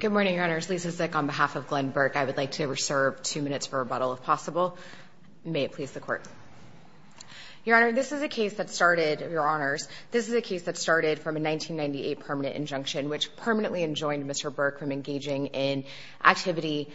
Good morning, Your Honors. Lisa Zick, on behalf of Glen Burke, I would like to reserve two minutes for rebuttal, if possible. May it please the Court. Your Honor, this is a case that started, Your Honors, this is a case that started from a 1998 permanent injunction, which permanently enjoined Mr. Burke from engaging in activity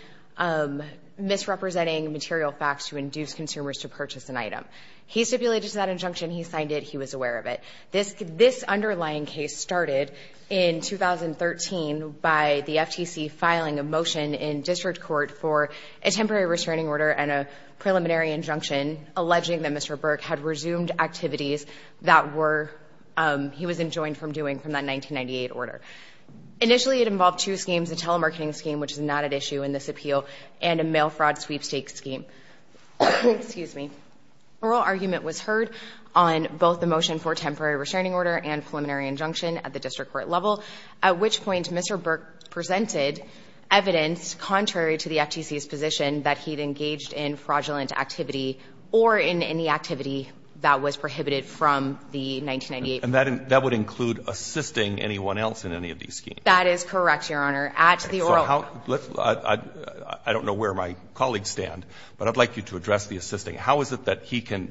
misrepresenting material facts to induce consumers to purchase an item. He stipulated to that injunction, he signed it, he was aware of it. This underlying case started in 2013 by the FTC filing a motion in district court for a temporary restraining order and a preliminary injunction, alleging that Mr. Burke had resumed activities that he was enjoined from doing from that 1998 order. Initially, it involved two schemes, a telemarketing scheme, which is not at issue in this appeal, and a mail fraud sweepstakes scheme. Excuse me. An oral argument was heard on both the motion for temporary restraining order and preliminary injunction at the district court level, at which point Mr. Burke presented evidence contrary to the FTC's position that he had engaged in fraudulent activity or in any activity that was prohibited from the 1998 order. And that would include assisting anyone else in any of these schemes? That is correct, Your Honor. At the oral argument. I don't know where my colleagues stand, but I'd like you to address the assisting. How is it that he can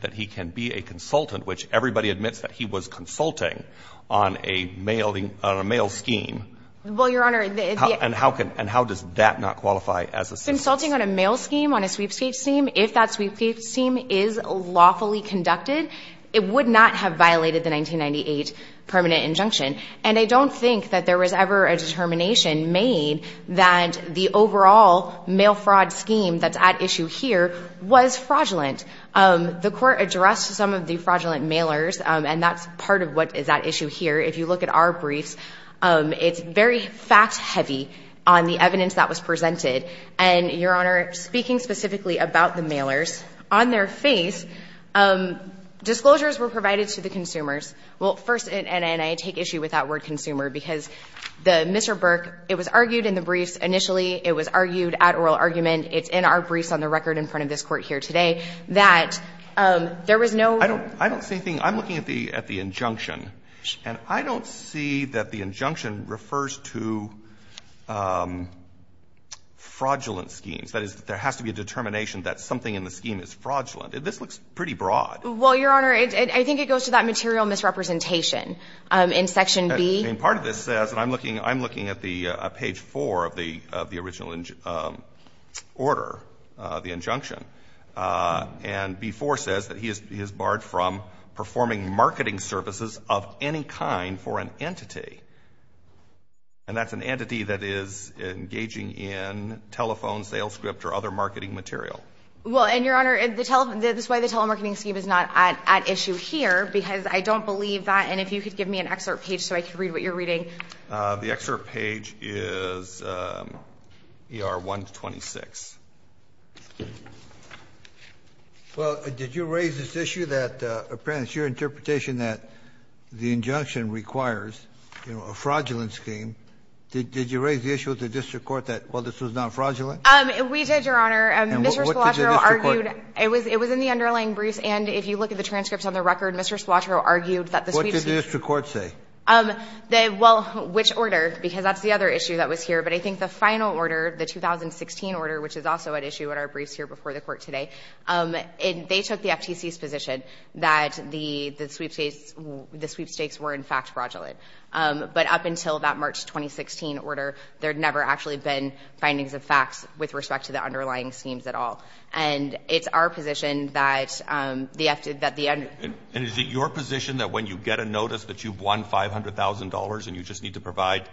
be a consultant, which everybody admits that he was consulting on a mail scheme? Well, Your Honor, the — And how does that not qualify as assisting? Consulting on a mail scheme, on a sweepstakes scheme, if that sweepstakes scheme is lawfully conducted, it would not have violated the 1998 permanent injunction. And I don't think that there was ever a determination made that the overall mail fraud scheme that's at issue here was fraudulent. The court addressed some of the fraudulent mailers, and that's part of what is at issue here. If you look at our briefs, it's very fact-heavy on the evidence that was presented. And, Your Honor, speaking specifically about the mailers, on their face, disclosures were provided to the consumers. Well, first, and I take issue with that word consumer, because the Mr. Burke, it was argued in the briefs initially, it was argued at oral argument, it's in our briefs on the record in front of this Court here today, that there was no — I don't see anything. I'm looking at the injunction. And I don't see that the injunction refers to fraudulent schemes. That is, there has to be a determination that something in the scheme is fraudulent. This looks pretty broad. Well, Your Honor, I think it goes to that material misrepresentation in section B. And part of this says, and I'm looking at page 4 of the original order, the injunction, and B-4 says that he is barred from performing marketing services of any kind for an entity. And that's an entity that is engaging in telephone sales script or other marketing material. Well, and Your Honor, this is why the telemarketing scheme is not at issue here, because I don't believe that. And if you could give me an excerpt page so I can read what you're reading. The excerpt page is ER-126. Well, did you raise this issue that, apparently, it's your interpretation that the injunction requires, you know, a fraudulent scheme. Did you raise the issue with the district court that, well, this was not fraudulent? We did, Your Honor. And what did the district court say? It was in the underlying briefs. And if you look at the transcripts on the record, Mr. Spalatro argued that the sweepstakes What did the district court say? Well, which order, because that's the other issue that was here. But I think the final order, the 2016 order, which is also at issue in our briefs here before the Court today, they took the FTC's position that the sweepstakes were, in fact, fraudulent. But up until that March 2016 order, there had never actually been findings of facts with respect to the underlying schemes at all. And it's our position that the FTC, that the under And is it your position that when you get a notice that you've won $500,000 and you just need to provide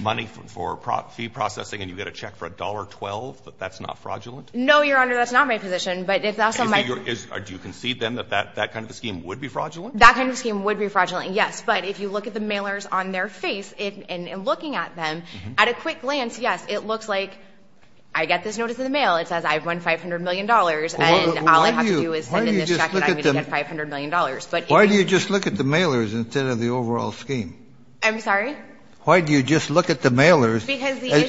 money for fee processing and you get a check for $1.12, that that's not fraudulent? No, Your Honor, that's not my position. But it's also my Do you concede then that that kind of a scheme would be fraudulent? That kind of a scheme would be fraudulent, yes. But if you look at the mailers on their face and looking at them, at a quick glance, yes, it looks like I get this notice in the mail. It says I've won $500 million, and all I have to do is send in this check and I'm going to get $500 million. But if Why do you just look at the mailers instead of the overall scheme? I'm sorry? Why do you just look at the mailers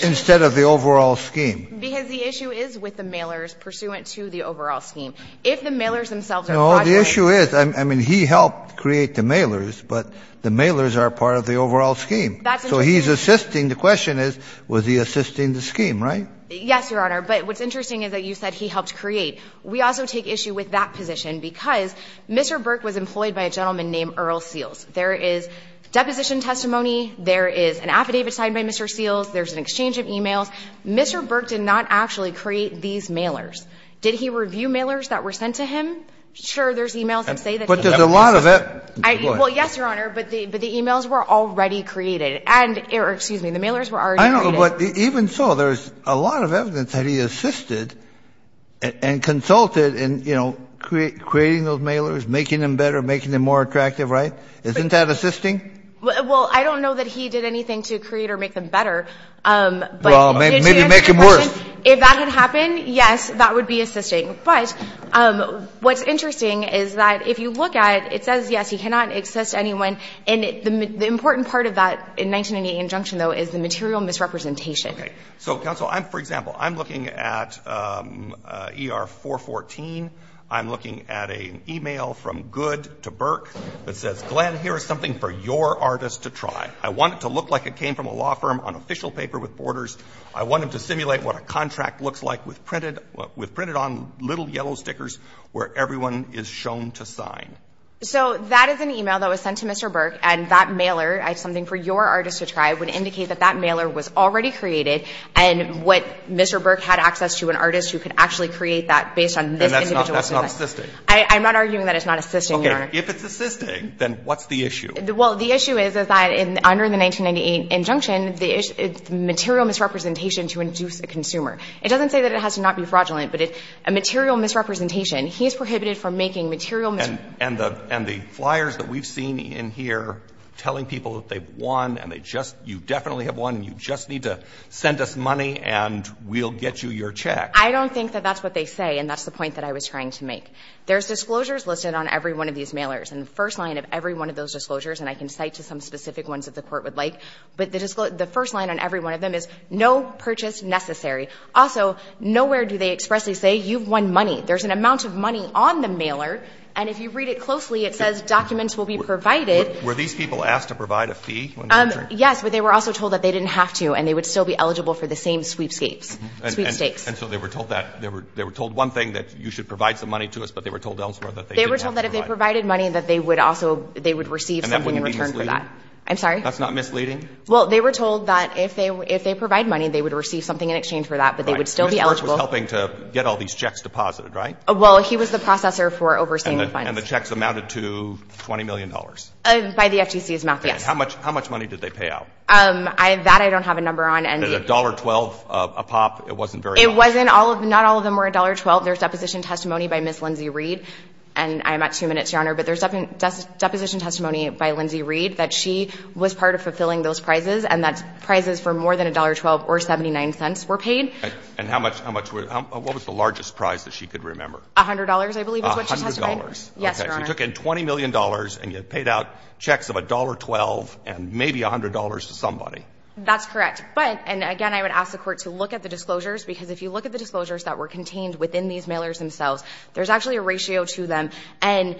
instead of the overall scheme? Because the issue is with the mailers pursuant to the overall scheme. If the mailers themselves are fraudulent No, the issue is, I mean, he helped create the mailers, but the mailers are part of the overall scheme. So he's assisting. The question is, was he assisting the scheme, right? Yes, Your Honor. But what's interesting is that you said he helped create. We also take issue with that position because Mr. Burke was employed by a gentleman named Earl Seals. There is deposition testimony. There is an affidavit signed by Mr. Seals. There's an exchange of e-mails. Mr. Burke did not actually create these mailers. Did he review mailers that were sent to him? Sure, there's e-mails that say that he helped create them. But there's a lot of it. Well, yes, Your Honor, but the e-mails were already created. Excuse me, the mailers were already created. Even so, there's a lot of evidence that he assisted and consulted in creating those mailers, making them better, making them more attractive, right? Isn't that assisting? Well, I don't know that he did anything to create or make them better. Well, maybe make them worse. If that had happened, yes, that would be assisting. But what's interesting is that if you look at it, it says, yes, he cannot assist anyone, and the important part of that in 1998 injunction, though, is the material misrepresentation. Okay. So, counsel, for example, I'm looking at ER-414. I'm looking at an e-mail from Good to Burke that says, Glenn, here is something for your artist to try. I want it to look like it came from a law firm on official paper with borders. I want it to simulate what a contract looks like with printed on little yellow stickers where everyone is shown to sign. So that is an e-mail that was sent to Mr. Burke, and that mailer, something for your artist to try, would indicate that that mailer was already created and what Mr. Burke had access to, an artist who could actually create that based on this individual's design. And that's not assisting? I'm not arguing that it's not assisting, Your Honor. Okay. If it's assisting, then what's the issue? Well, the issue is that under the 1998 injunction, the material misrepresentation to induce a consumer. It doesn't say that it has to not be fraudulent, but a material misrepresentation, he is prohibited from making material misrepresentation. And the flyers that we've seen in here telling people that they've won and you definitely have won and you just need to send us money and we'll get you your check. I don't think that that's what they say, and that's the point that I was trying to make. There's disclosures listed on every one of these mailers, and the first line of every one of those disclosures, and I can cite to some specific ones that the Court would like, but the first line on every one of them is no purchase necessary. Also, nowhere do they expressly say you've won money. There's an amount of money on the mailer, and if you read it closely, it says documents will be provided. Were these people asked to provide a fee when they entered? Yes, but they were also told that they didn't have to and they would still be eligible for the same sweepstakes. And so they were told that. They were told one thing, that you should provide some money to us, but they were told elsewhere that they didn't have to provide it. They were told that if they provided money, that they would also, they would receive something in return for that. And that would be misleading? I'm sorry? That's not misleading? Well, they were told that if they provide money, they would receive something in exchange for that, but they would still be eligible. Mr. Burke was helping to get all these checks deposited, right? Well, he was the processor for overseeing the funds. And the checks amounted to $20 million? By the FTC's math, yes. Okay. How much money did they pay out? That I don't have a number on. $1.12 a pop? It wasn't very high. It wasn't. Not all of them were $1.12. Well, there's deposition testimony by Ms. Lindsay Reed. And I'm at two minutes, Your Honor. But there's deposition testimony by Lindsay Reed that she was part of fulfilling those prizes and that prizes for more than $1.12 or 79 cents were paid. And how much, what was the largest prize that she could remember? $100, I believe is what she testified. $100. Yes, Your Honor. She took in $20 million and you paid out checks of $1.12 and maybe $100 to somebody. That's correct. But, and again, I would ask the Court to look at the disclosures, because if you look at the disclosures that were contained within these mailers themselves, there's actually a ratio to them. And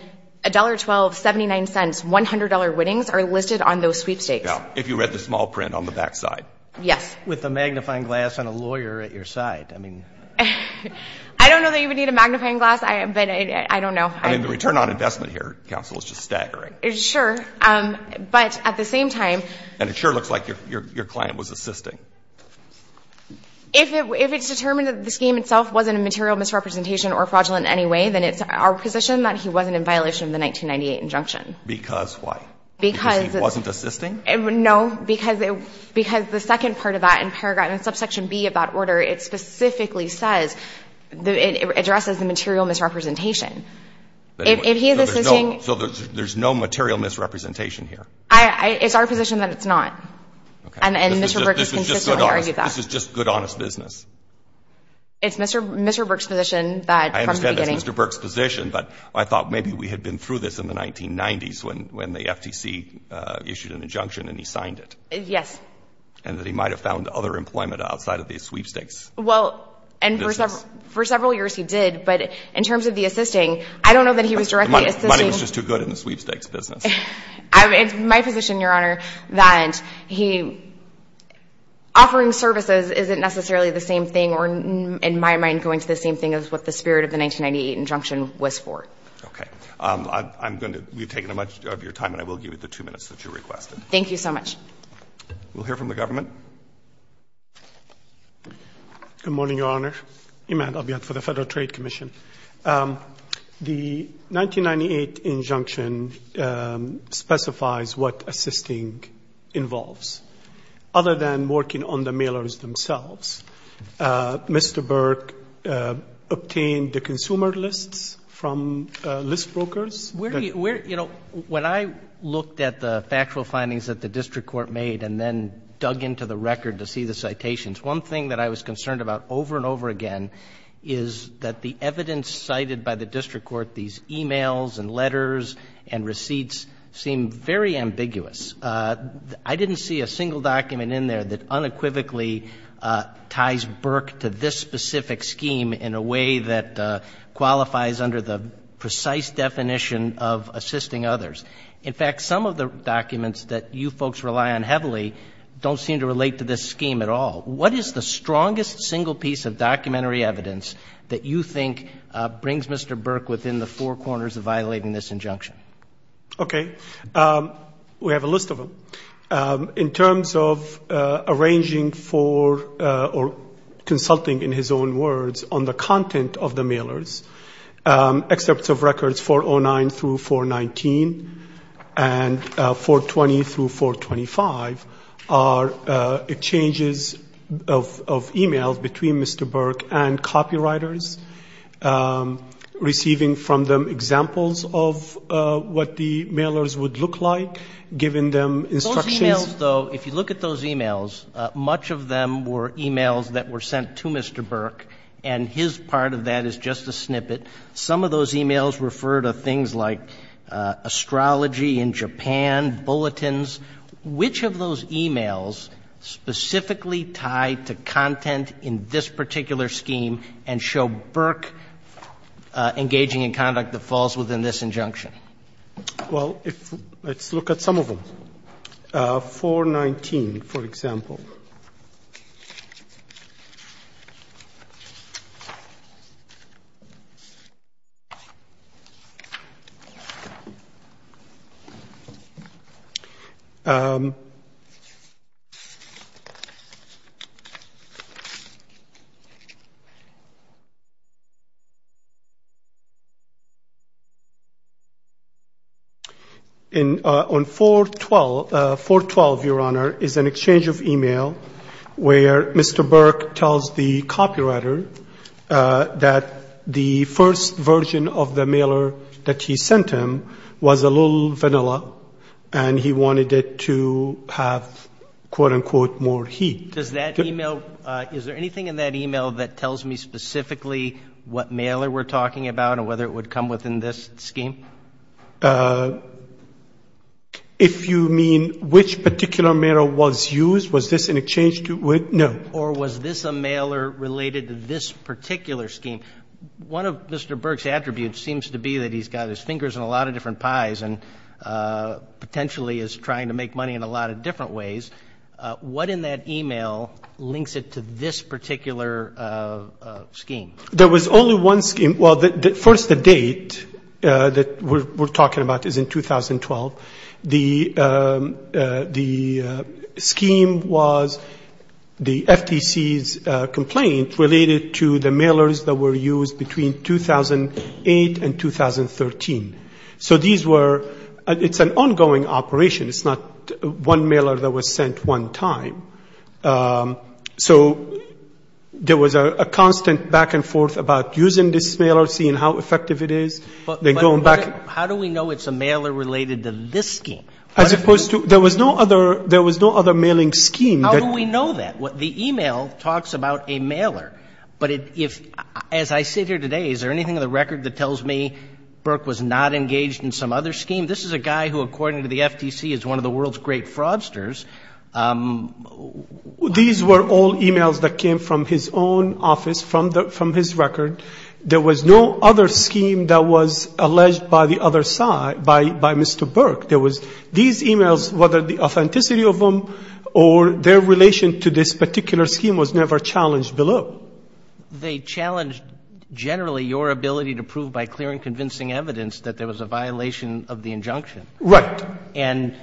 $1.12, 79 cents, $100 winnings are listed on those sweepstakes. Yeah. If you read the small print on the back side. Yes. With a magnifying glass and a lawyer at your side. I mean. I don't know that you would need a magnifying glass, but I don't know. I mean, the return on investment here, counsel, is just staggering. Sure. But at the same time. And it sure looks like your client was assisting. If it's determined that the scheme itself wasn't a material misrepresentation or fraudulent in any way, then it's our position that he wasn't in violation of the 1998 injunction. Because why? Because. Because he wasn't assisting? No. Because the second part of that in paragraph, in subsection B of that order, it specifically says, it addresses the material misrepresentation. If he is assisting. So there's no material misrepresentation here? It's our position that it's not. Okay. And Mr. Burke has consistently argued that. This is just good, honest business. It's Mr. Burke's position that from the beginning. I understand it's Mr. Burke's position, but I thought maybe we had been through this in the 1990s when the FTC issued an injunction and he signed it. Yes. And that he might have found other employment outside of these sweepstakes. Well, and for several years he did. But in terms of the assisting, I don't know that he was directly assisting. The money was just too good in the sweepstakes business. It's my position, Your Honor, that he, offering services isn't necessarily the same thing or in my mind going to the same thing as what the spirit of the 1998 injunction was for. Okay. I'm going to, we've taken much of your time and I will give you the two minutes that you requested. Thank you so much. We'll hear from the government. Good morning, Your Honor. Iman Abiy for the Federal Trade Commission. The 1998 injunction specifies what assisting involves. Other than working on the mailers themselves, Mr. Burke obtained the consumer lists from list brokers? Where do you, you know, when I looked at the factual findings that the district court made and then dug into the record to see the citations, one thing that I was interested in was that the evidence cited by the district court, these e-mails and letters and receipts, seemed very ambiguous. I didn't see a single document in there that unequivocally ties Burke to this specific scheme in a way that qualifies under the precise definition of assisting others. In fact, some of the documents that you folks rely on heavily don't seem to relate to this scheme at all. What is the strongest single piece of documentary evidence that you think brings Mr. Burke within the four corners of violating this injunction? Okay. We have a list of them. In terms of arranging for or consulting, in his own words, on the content of the e-mails between Mr. Burke and copywriters, receiving from them examples of what the mailers would look like, giving them instructions. Those e-mails, though, if you look at those e-mails, much of them were e-mails that were sent to Mr. Burke, and his part of that is just a snippet. Some of those e-mails refer to things like astrology in Japan, bulletins. Which of those e-mails specifically tied to content in this particular scheme and show Burke engaging in conduct that falls within this injunction? Well, let's look at some of them. 419, for example. On 412, Your Honor, is an exchange of e-mail where Mr. Burke tells the copywriter that the first version of the And he wanted it to have, quote-unquote, more heat. Does that e-mail, is there anything in that e-mail that tells me specifically what mailer we're talking about and whether it would come within this scheme? If you mean which particular mailer was used, was this in exchange to, no. Or was this a mailer related to this particular scheme? I mean, one of Mr. Burke's attributes seems to be that he's got his fingers in a lot of different pies and potentially is trying to make money in a lot of different ways. What in that e-mail links it to this particular scheme? There was only one scheme. Well, first the date that we're talking about is in 2012. The scheme was the FTC's complaint related to the mailers that were used between 2008 and 2013. So these were, it's an ongoing operation. It's not one mailer that was sent one time. So there was a constant back and forth about using this mailer, seeing how effective it is. But how do we know it's a mailer related to this scheme? As opposed to, there was no other mailing scheme. How do we know that? The e-mail talks about a mailer. But if, as I sit here today, is there anything in the record that tells me Burke was not engaged in some other scheme? This is a guy who, according to the FTC, is one of the world's great fraudsters. These were all e-mails that came from his own office, from his record. There was no other scheme that was alleged by the other side, by Mr. Burke. There was these e-mails, whether the authenticity of them or their relation to this particular scheme was never challenged below. They challenged generally your ability to prove by clear and convincing evidence that there was a violation of the injunction. Right. And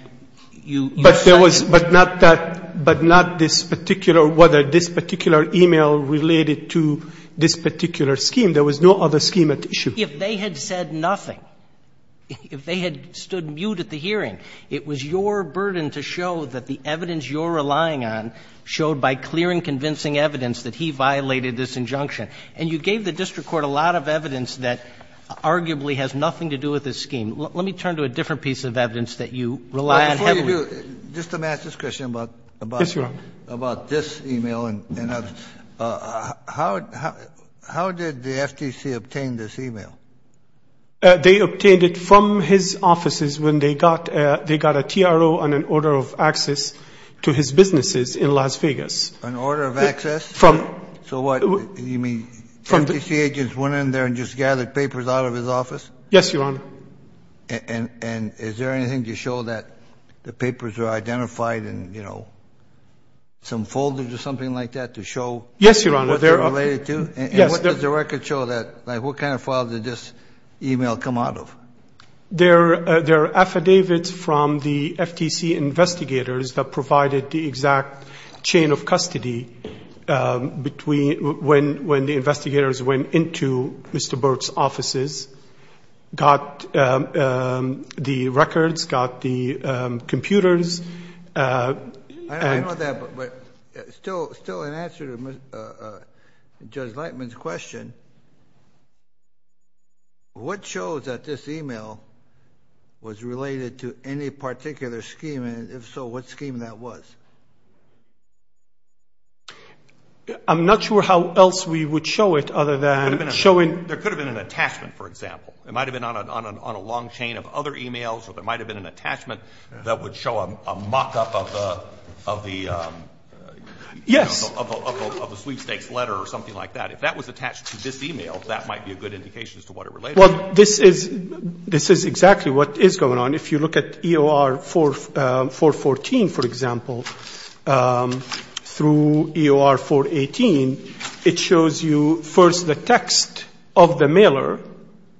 you said that. But there was, but not that, but not this particular, whether this particular e-mail related to this particular scheme. There was no other scheme at issue. If they had said nothing, if they had stood mute at the hearing, it was your burden to show that the evidence you're relying on showed by clear and convincing evidence that he violated this injunction. And you gave the district court a lot of evidence that arguably has nothing to do with this scheme. Let me turn to a different piece of evidence that you rely on heavily. Before you do, just to match this question about this e-mail and others, how did the FTC obtain this e-mail? They obtained it from his offices when they got a TRO on an order of access to his businesses in Las Vegas. An order of access? From. So what, you mean FTC agents went in there and just gathered papers out of his office? Yes, Your Honor. And is there anything to show that the papers were identified in, you know, some folders or something like that to show. Yes, Your Honor. What they're related to? Yes. And what does the record show that, like what kind of files did this e-mail come out of? There are affidavits from the FTC investigators that provided the exact chain of custody between when the investigators went into Mr. Burt's offices, got the records, got the computers. I know that, but still in answer to Judge Lightman's question, what shows that this e-mail was related to any particular scheme, and if so, what scheme that was? I'm not sure how else we would show it other than showing. There could have been an attachment, for example. It might have been on a long chain of other e-mails, or there might have been an attachment that would show a mock-up of the sweepstakes letter or something like that. If that was attached to this e-mail, that might be a good indication as to what it related to. Well, this is exactly what is going on. If you look at EOR 414, for example, through EOR 418, it shows you first the text of the mailer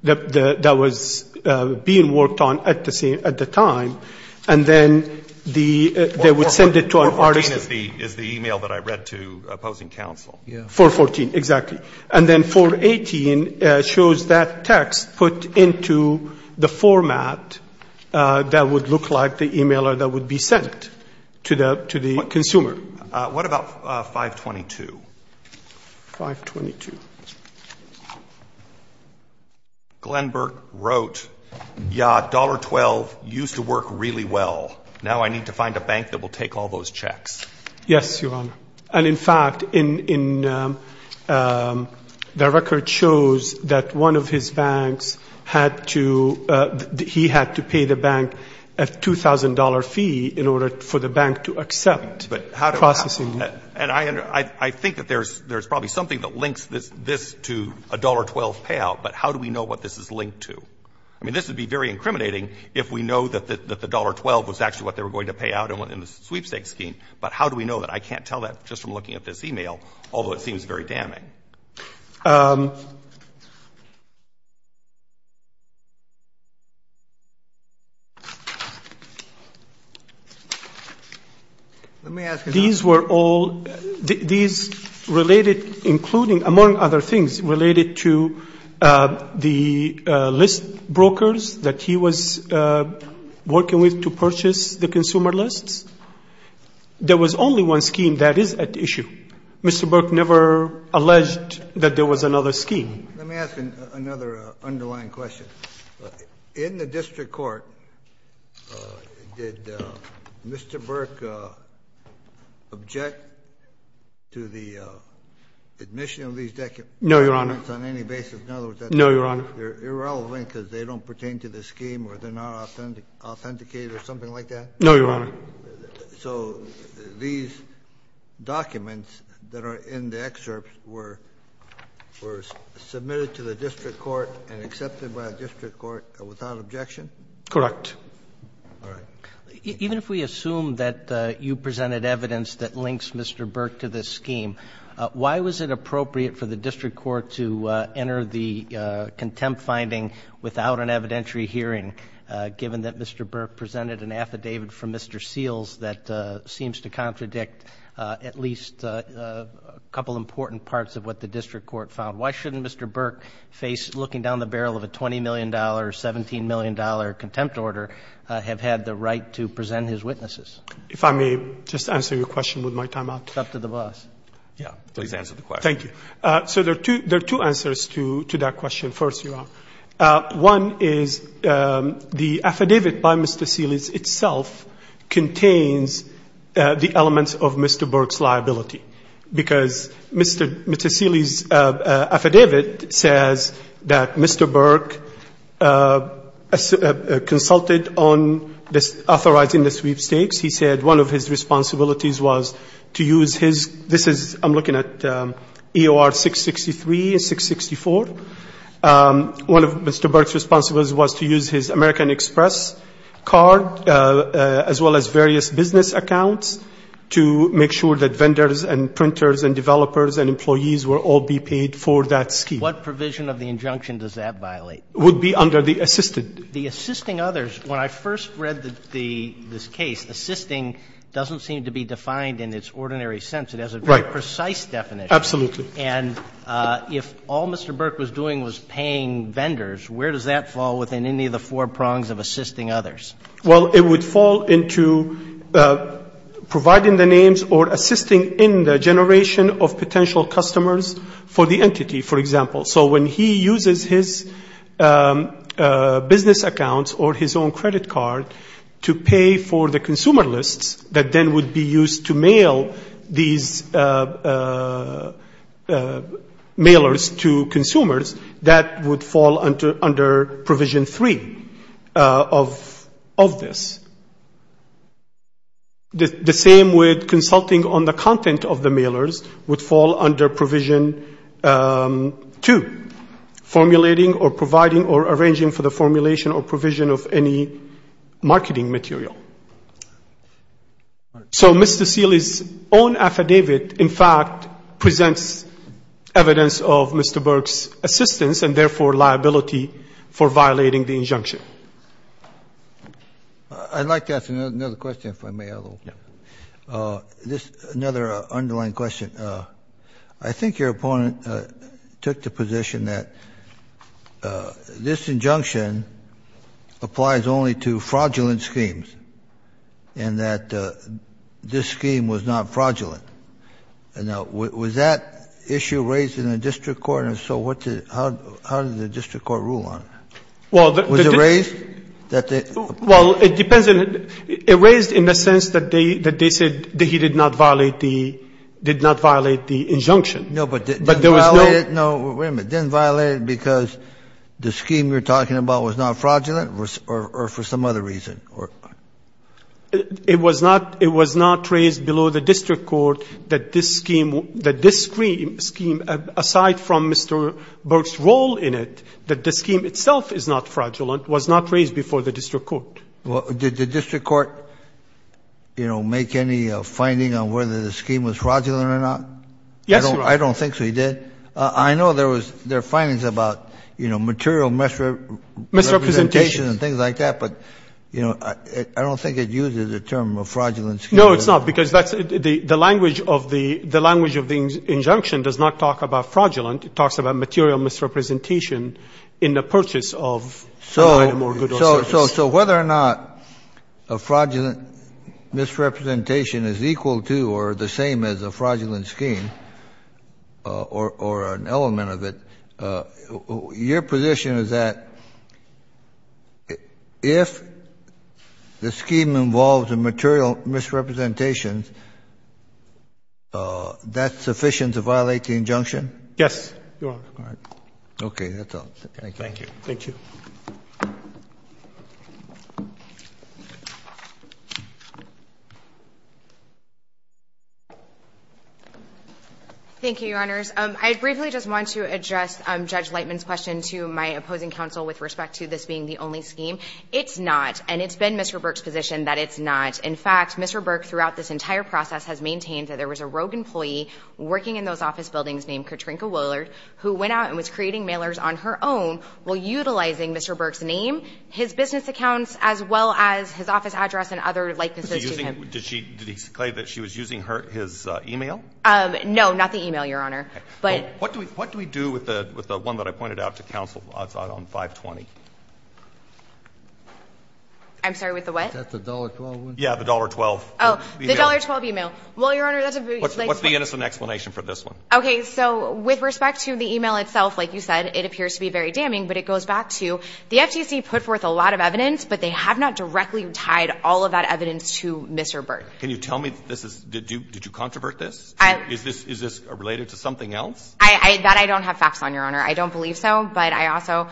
that was being worked on at the time, and then they would send it to an artist. 414 is the e-mail that I read to opposing counsel. Yeah. 414, exactly. And then 418 shows that text put into the format that would look like the e-mailer that would be sent to the consumer. What about 522? 522. Glenberg wrote, yeah, $1.12 used to work really well. Now I need to find a bank that will take all those checks. Yes, Your Honor. And, in fact, the record shows that one of his banks had to pay the bank a $2,000 fee in order for the bank to accept processing. And I think that there's probably something that links this to a $1.12 payout, but how do we know what this is linked to? I mean, this would be very incriminating if we know that the $1.12 was actually what they were going to pay out in the sweepstakes scheme, but how do we know that? I can't tell that just from looking at this e-mail, although it seems very damning. Let me ask you something. These were all, these related, including, among other things, related to the list brokers that he was working with to purchase the consumer lists. There was only one scheme that is at issue. Mr. Burke never alleged that there was another scheme. Let me ask another underlying question. In the district court, did Mr. Burke object to the admission of these documents on any basis? No, Your Honor. In other words, they're irrelevant because they don't pertain to the scheme or they're not authenticated or something like that? No, Your Honor. So these documents that are in the excerpts were submitted to the district court and accepted by the district court without objection? Correct. All right. Even if we assume that you presented evidence that links Mr. Burke to this scheme, why was it appropriate for the district court to enter the contempt finding without an evidentiary hearing, given that Mr. Burke presented an affidavit from Mr. Seals that seems to contradict at least a couple important parts of what the district court found? Why shouldn't Mr. Burke face, looking down the barrel of a $20 million, $17 million contempt order, have had the right to present his witnesses? If I may just answer your question with my time out? It's up to the boss. Yeah. Please answer the question. Thank you. So there are two answers to that question, first, Your Honor. One is the affidavit by Mr. Seals itself contains the elements of Mr. Burke's liability, because Mr. Seals' affidavit says that Mr. Burke consulted on authorizing the sweepstakes. He said one of his responsibilities was to use his – this is – I'm looking at EOR 663 and 664. One of Mr. Burke's responsibilities was to use his American Express card, as well as various business accounts, to make sure that vendors and printers and developers and employees will all be paid for that scheme. What provision of the injunction does that violate? It would be under the assisted. The assisting others, when I first read the – this case, assisting doesn't seem to be defined in its ordinary sense. It has a very precise definition. Absolutely. And if all Mr. Burke was doing was paying vendors, where does that fall within any of the four prongs of assisting others? Well, it would fall into providing the names or assisting in the generation of potential customers for the entity, for example. So when he uses his business accounts or his own credit card to pay for the consumer lists that then would be used to mail these mailers to consumers, that would fall under provision three of this. The same with consulting on the content of the mailers would fall under provision two, formulating or providing or arranging for the formulation or provision of any So Mr. Seely's own affidavit, in fact, presents evidence of Mr. Burke's assistance and therefore liability for violating the injunction. I'd like to ask another question, if I may. Another underlying question. I think your opponent took the position that this injunction applies only to fraudulent schemes and that this scheme was not fraudulent. Now, was that issue raised in the district court? And if so, how did the district court rule on it? Was it raised? Well, it depends. It raised in the sense that they said that he did not violate the injunction. No, but didn't violate it because the scheme you're talking about was not fraudulent or for some other reason? It was not raised below the district court that this scheme, aside from Mr. Burke's role in it, that the scheme itself is not fraudulent, was not raised before the district court. Did the district court, you know, make any finding on whether the scheme was fraudulent or not? I don't think so. He did? I know there was findings about, you know, material misrepresentation and things like that, but, you know, I don't think it uses the term a fraudulent scheme. No, it's not, because the language of the injunction does not talk about fraudulent. It talks about material misrepresentation in the purchase of a item or good or service. So whether or not a fraudulent misrepresentation is equal to or the same as a fraudulent scheme or an element of it, your position is that if the scheme involves a material misrepresentation, that's sufficient to violate the injunction? Yes, Your Honor. All right. Okay, that's all. Thank you. Thank you. Thank you, Your Honors. I briefly just want to address Judge Lightman's question to my opposing counsel with respect to this being the only scheme. It's not, and it's been Mr. Burke's position that it's not. In fact, Mr. Burke, throughout this entire process, has maintained that there was a rogue employee working in those office buildings named Katrina Willard who went out and was creating mailers on her own while utilizing Mr. Burke's name, his business accounts, as well as his office address and other likenesses to him. Did he say that she was using his e-mail? No, not the e-mail, Your Honor. What do we do with the one that I pointed out to counsel on 520? I'm sorry, with the what? That's the $1.12 one? Yeah, the $1.12 e-mail. Oh, the $1.12 e-mail. Well, Your Honor, that's a very... What's the innocent explanation for this one? Okay, so with respect to the e-mail itself, like you said, it appears to be very damning, but it goes back to the FTC put forth a lot of evidence, but they have not directly tied all of that evidence to Mr. Burke. Can you tell me that this is — did you controvert this? Is this related to something else? That I don't have facts on, Your Honor. I don't believe so, but I also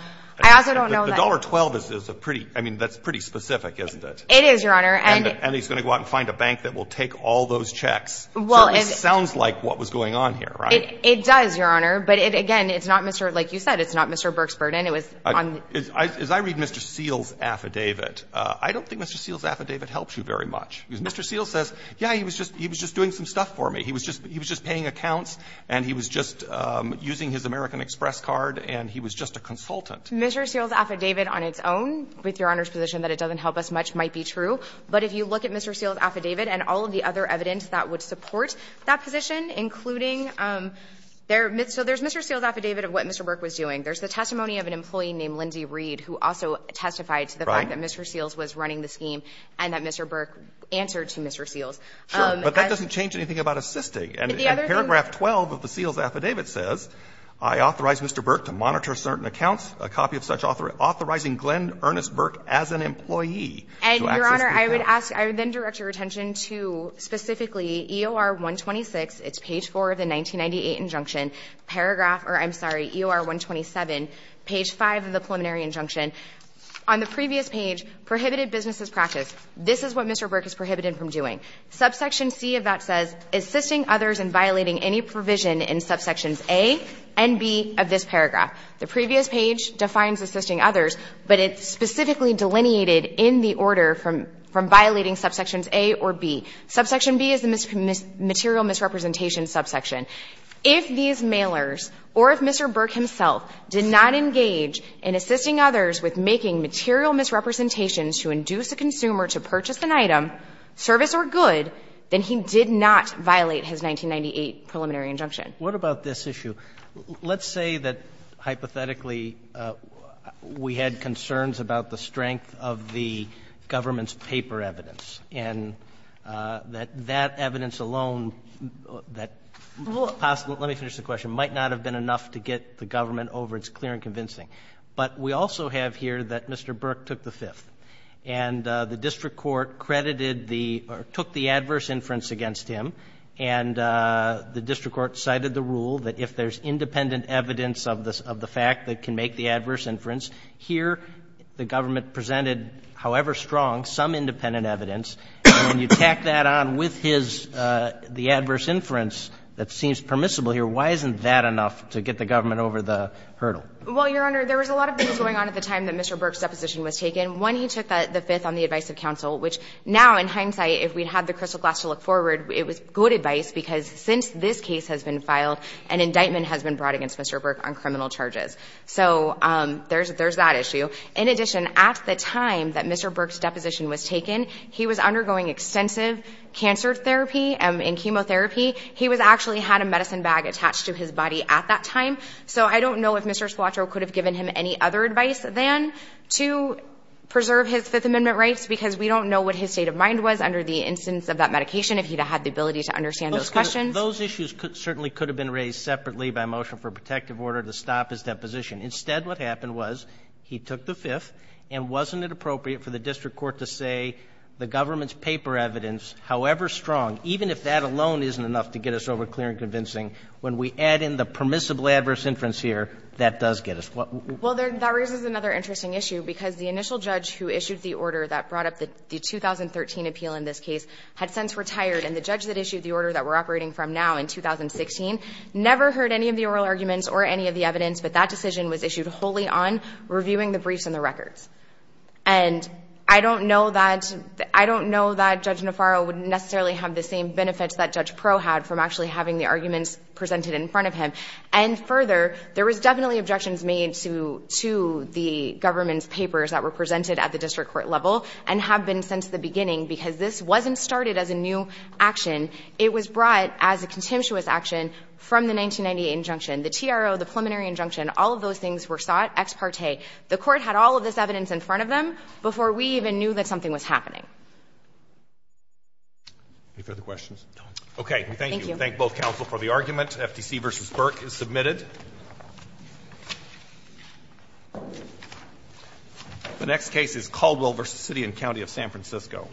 don't know that... The $1.12 is a pretty — I mean, that's pretty specific, isn't it? It is, Your Honor, and... And he's going to go out and find a bank that will take all those checks. So it sounds like what was going on here, right? It does, Your Honor, but again, it's not Mr. — like you said, it's not Mr. Burke's burden. It was on... As I read Mr. Seals' affidavit, I don't think Mr. Seals' affidavit helps you very much, because Mr. Seals says, yeah, he was just doing some stuff for me. He was just paying accounts and he was just using his American Express card and he was just a consultant. Mr. Seals' affidavit on its own, with Your Honor's position that it doesn't help us much, might be true, but if you look at Mr. Seals' affidavit and all of the other evidence that would support that position, including their — so there's Mr. Seals' affidavit of what Mr. Burke was doing. There's the testimony of an employee named Lindy Reed, who also testified to the fact that Mr. Seals was running the scheme and that Mr. Burke answered to Mr. Seals. Sure. But that doesn't change anything about assisting. And paragraph 12 of the Seals' affidavit says, I authorize Mr. Burke to monitor certain accounts, a copy of such authorizing Glenn Ernest Burke as an employee to access the account. And, Your Honor, I would ask — I would then direct your attention to specifically EOR-126, it's page 4 of the 1998 injunction, paragraph — or I'm sorry, EOR-127, page 5 of the preliminary injunction. On the previous page, prohibited businesses practice. This is what Mr. Burke is prohibited from doing. Subsection C of that says, assisting others in violating any provision in subsections A and B of this paragraph. The previous page defines assisting others, but it's specifically delineated in the order from violating subsections A or B. Subsection B is the material misrepresentation subsection. If these mailers, or if Mr. Burke himself, did not engage in assisting others with making material misrepresentations to induce a consumer to purchase an item, service or good, then he did not violate his 1998 preliminary injunction. What about this issue? Let's say that, hypothetically, we had concerns about the strength of the government's Let me finish the question. Might not have been enough to get the government over its clear and convincing. But we also have here that Mr. Burke took the Fifth, and the district court credited the — or took the adverse inference against him, and the district court cited the rule that if there's independent evidence of the fact that can make the adverse inference, here the government presented, however strong, some independent evidence, and when you tack that on with his — the adverse inference that seems permissible here, why isn't that enough to get the government over the hurdle? Well, Your Honor, there was a lot of things going on at the time that Mr. Burke's deposition was taken. One, he took the Fifth on the advice of counsel, which now, in hindsight, if we had the crystal glass to look forward, it was good advice, because since this case has been filed, an indictment has been brought against Mr. Burke on criminal charges. So there's that issue. In addition, at the time that Mr. Burke's deposition was taken, he was undergoing extensive cancer therapy and chemotherapy. He actually had a medicine bag attached to his body at that time. So I don't know if Mr. Spilaccio could have given him any other advice than to preserve his Fifth Amendment rights, because we don't know what his state of mind was under the instance of that medication, if he had the ability to understand those questions. Those issues certainly could have been raised separately by motion for a protective order to stop his deposition. Instead, what happened was he took the Fifth, and wasn't it appropriate for the district court to say the government's paper evidence, however strong, even if that alone isn't enough to get us over clear and convincing, when we add in the permissible adverse inference here, that does get us. What would you do? Well, that raises another interesting issue, because the initial judge who issued the order that brought up the 2013 appeal in this case had since retired, and the judge that issued the order that we're operating from now in 2016 never heard any of the oral arguments or any of the evidence, but that decision was issued wholly on reviewing the briefs and the records. And I don't know that Judge Nafarro would necessarily have the same benefits that Judge Pro had from actually having the arguments presented in front of him. And further, there was definitely objections made to the government's papers that were presented at the district court level and have been since the beginning, because this wasn't started as a new action. It was brought as a contemptuous action from the 1998 injunction. The TRO, the preliminary injunction, all of those things were sought ex parte. The Court had all of this evidence in front of them before we even knew that something was happening. Any further questions? Okay. Thank you. Thank you. We thank both counsel for the argument. FTC v. Burke is submitted. The next case is Caldwell v. City and County of San Francisco.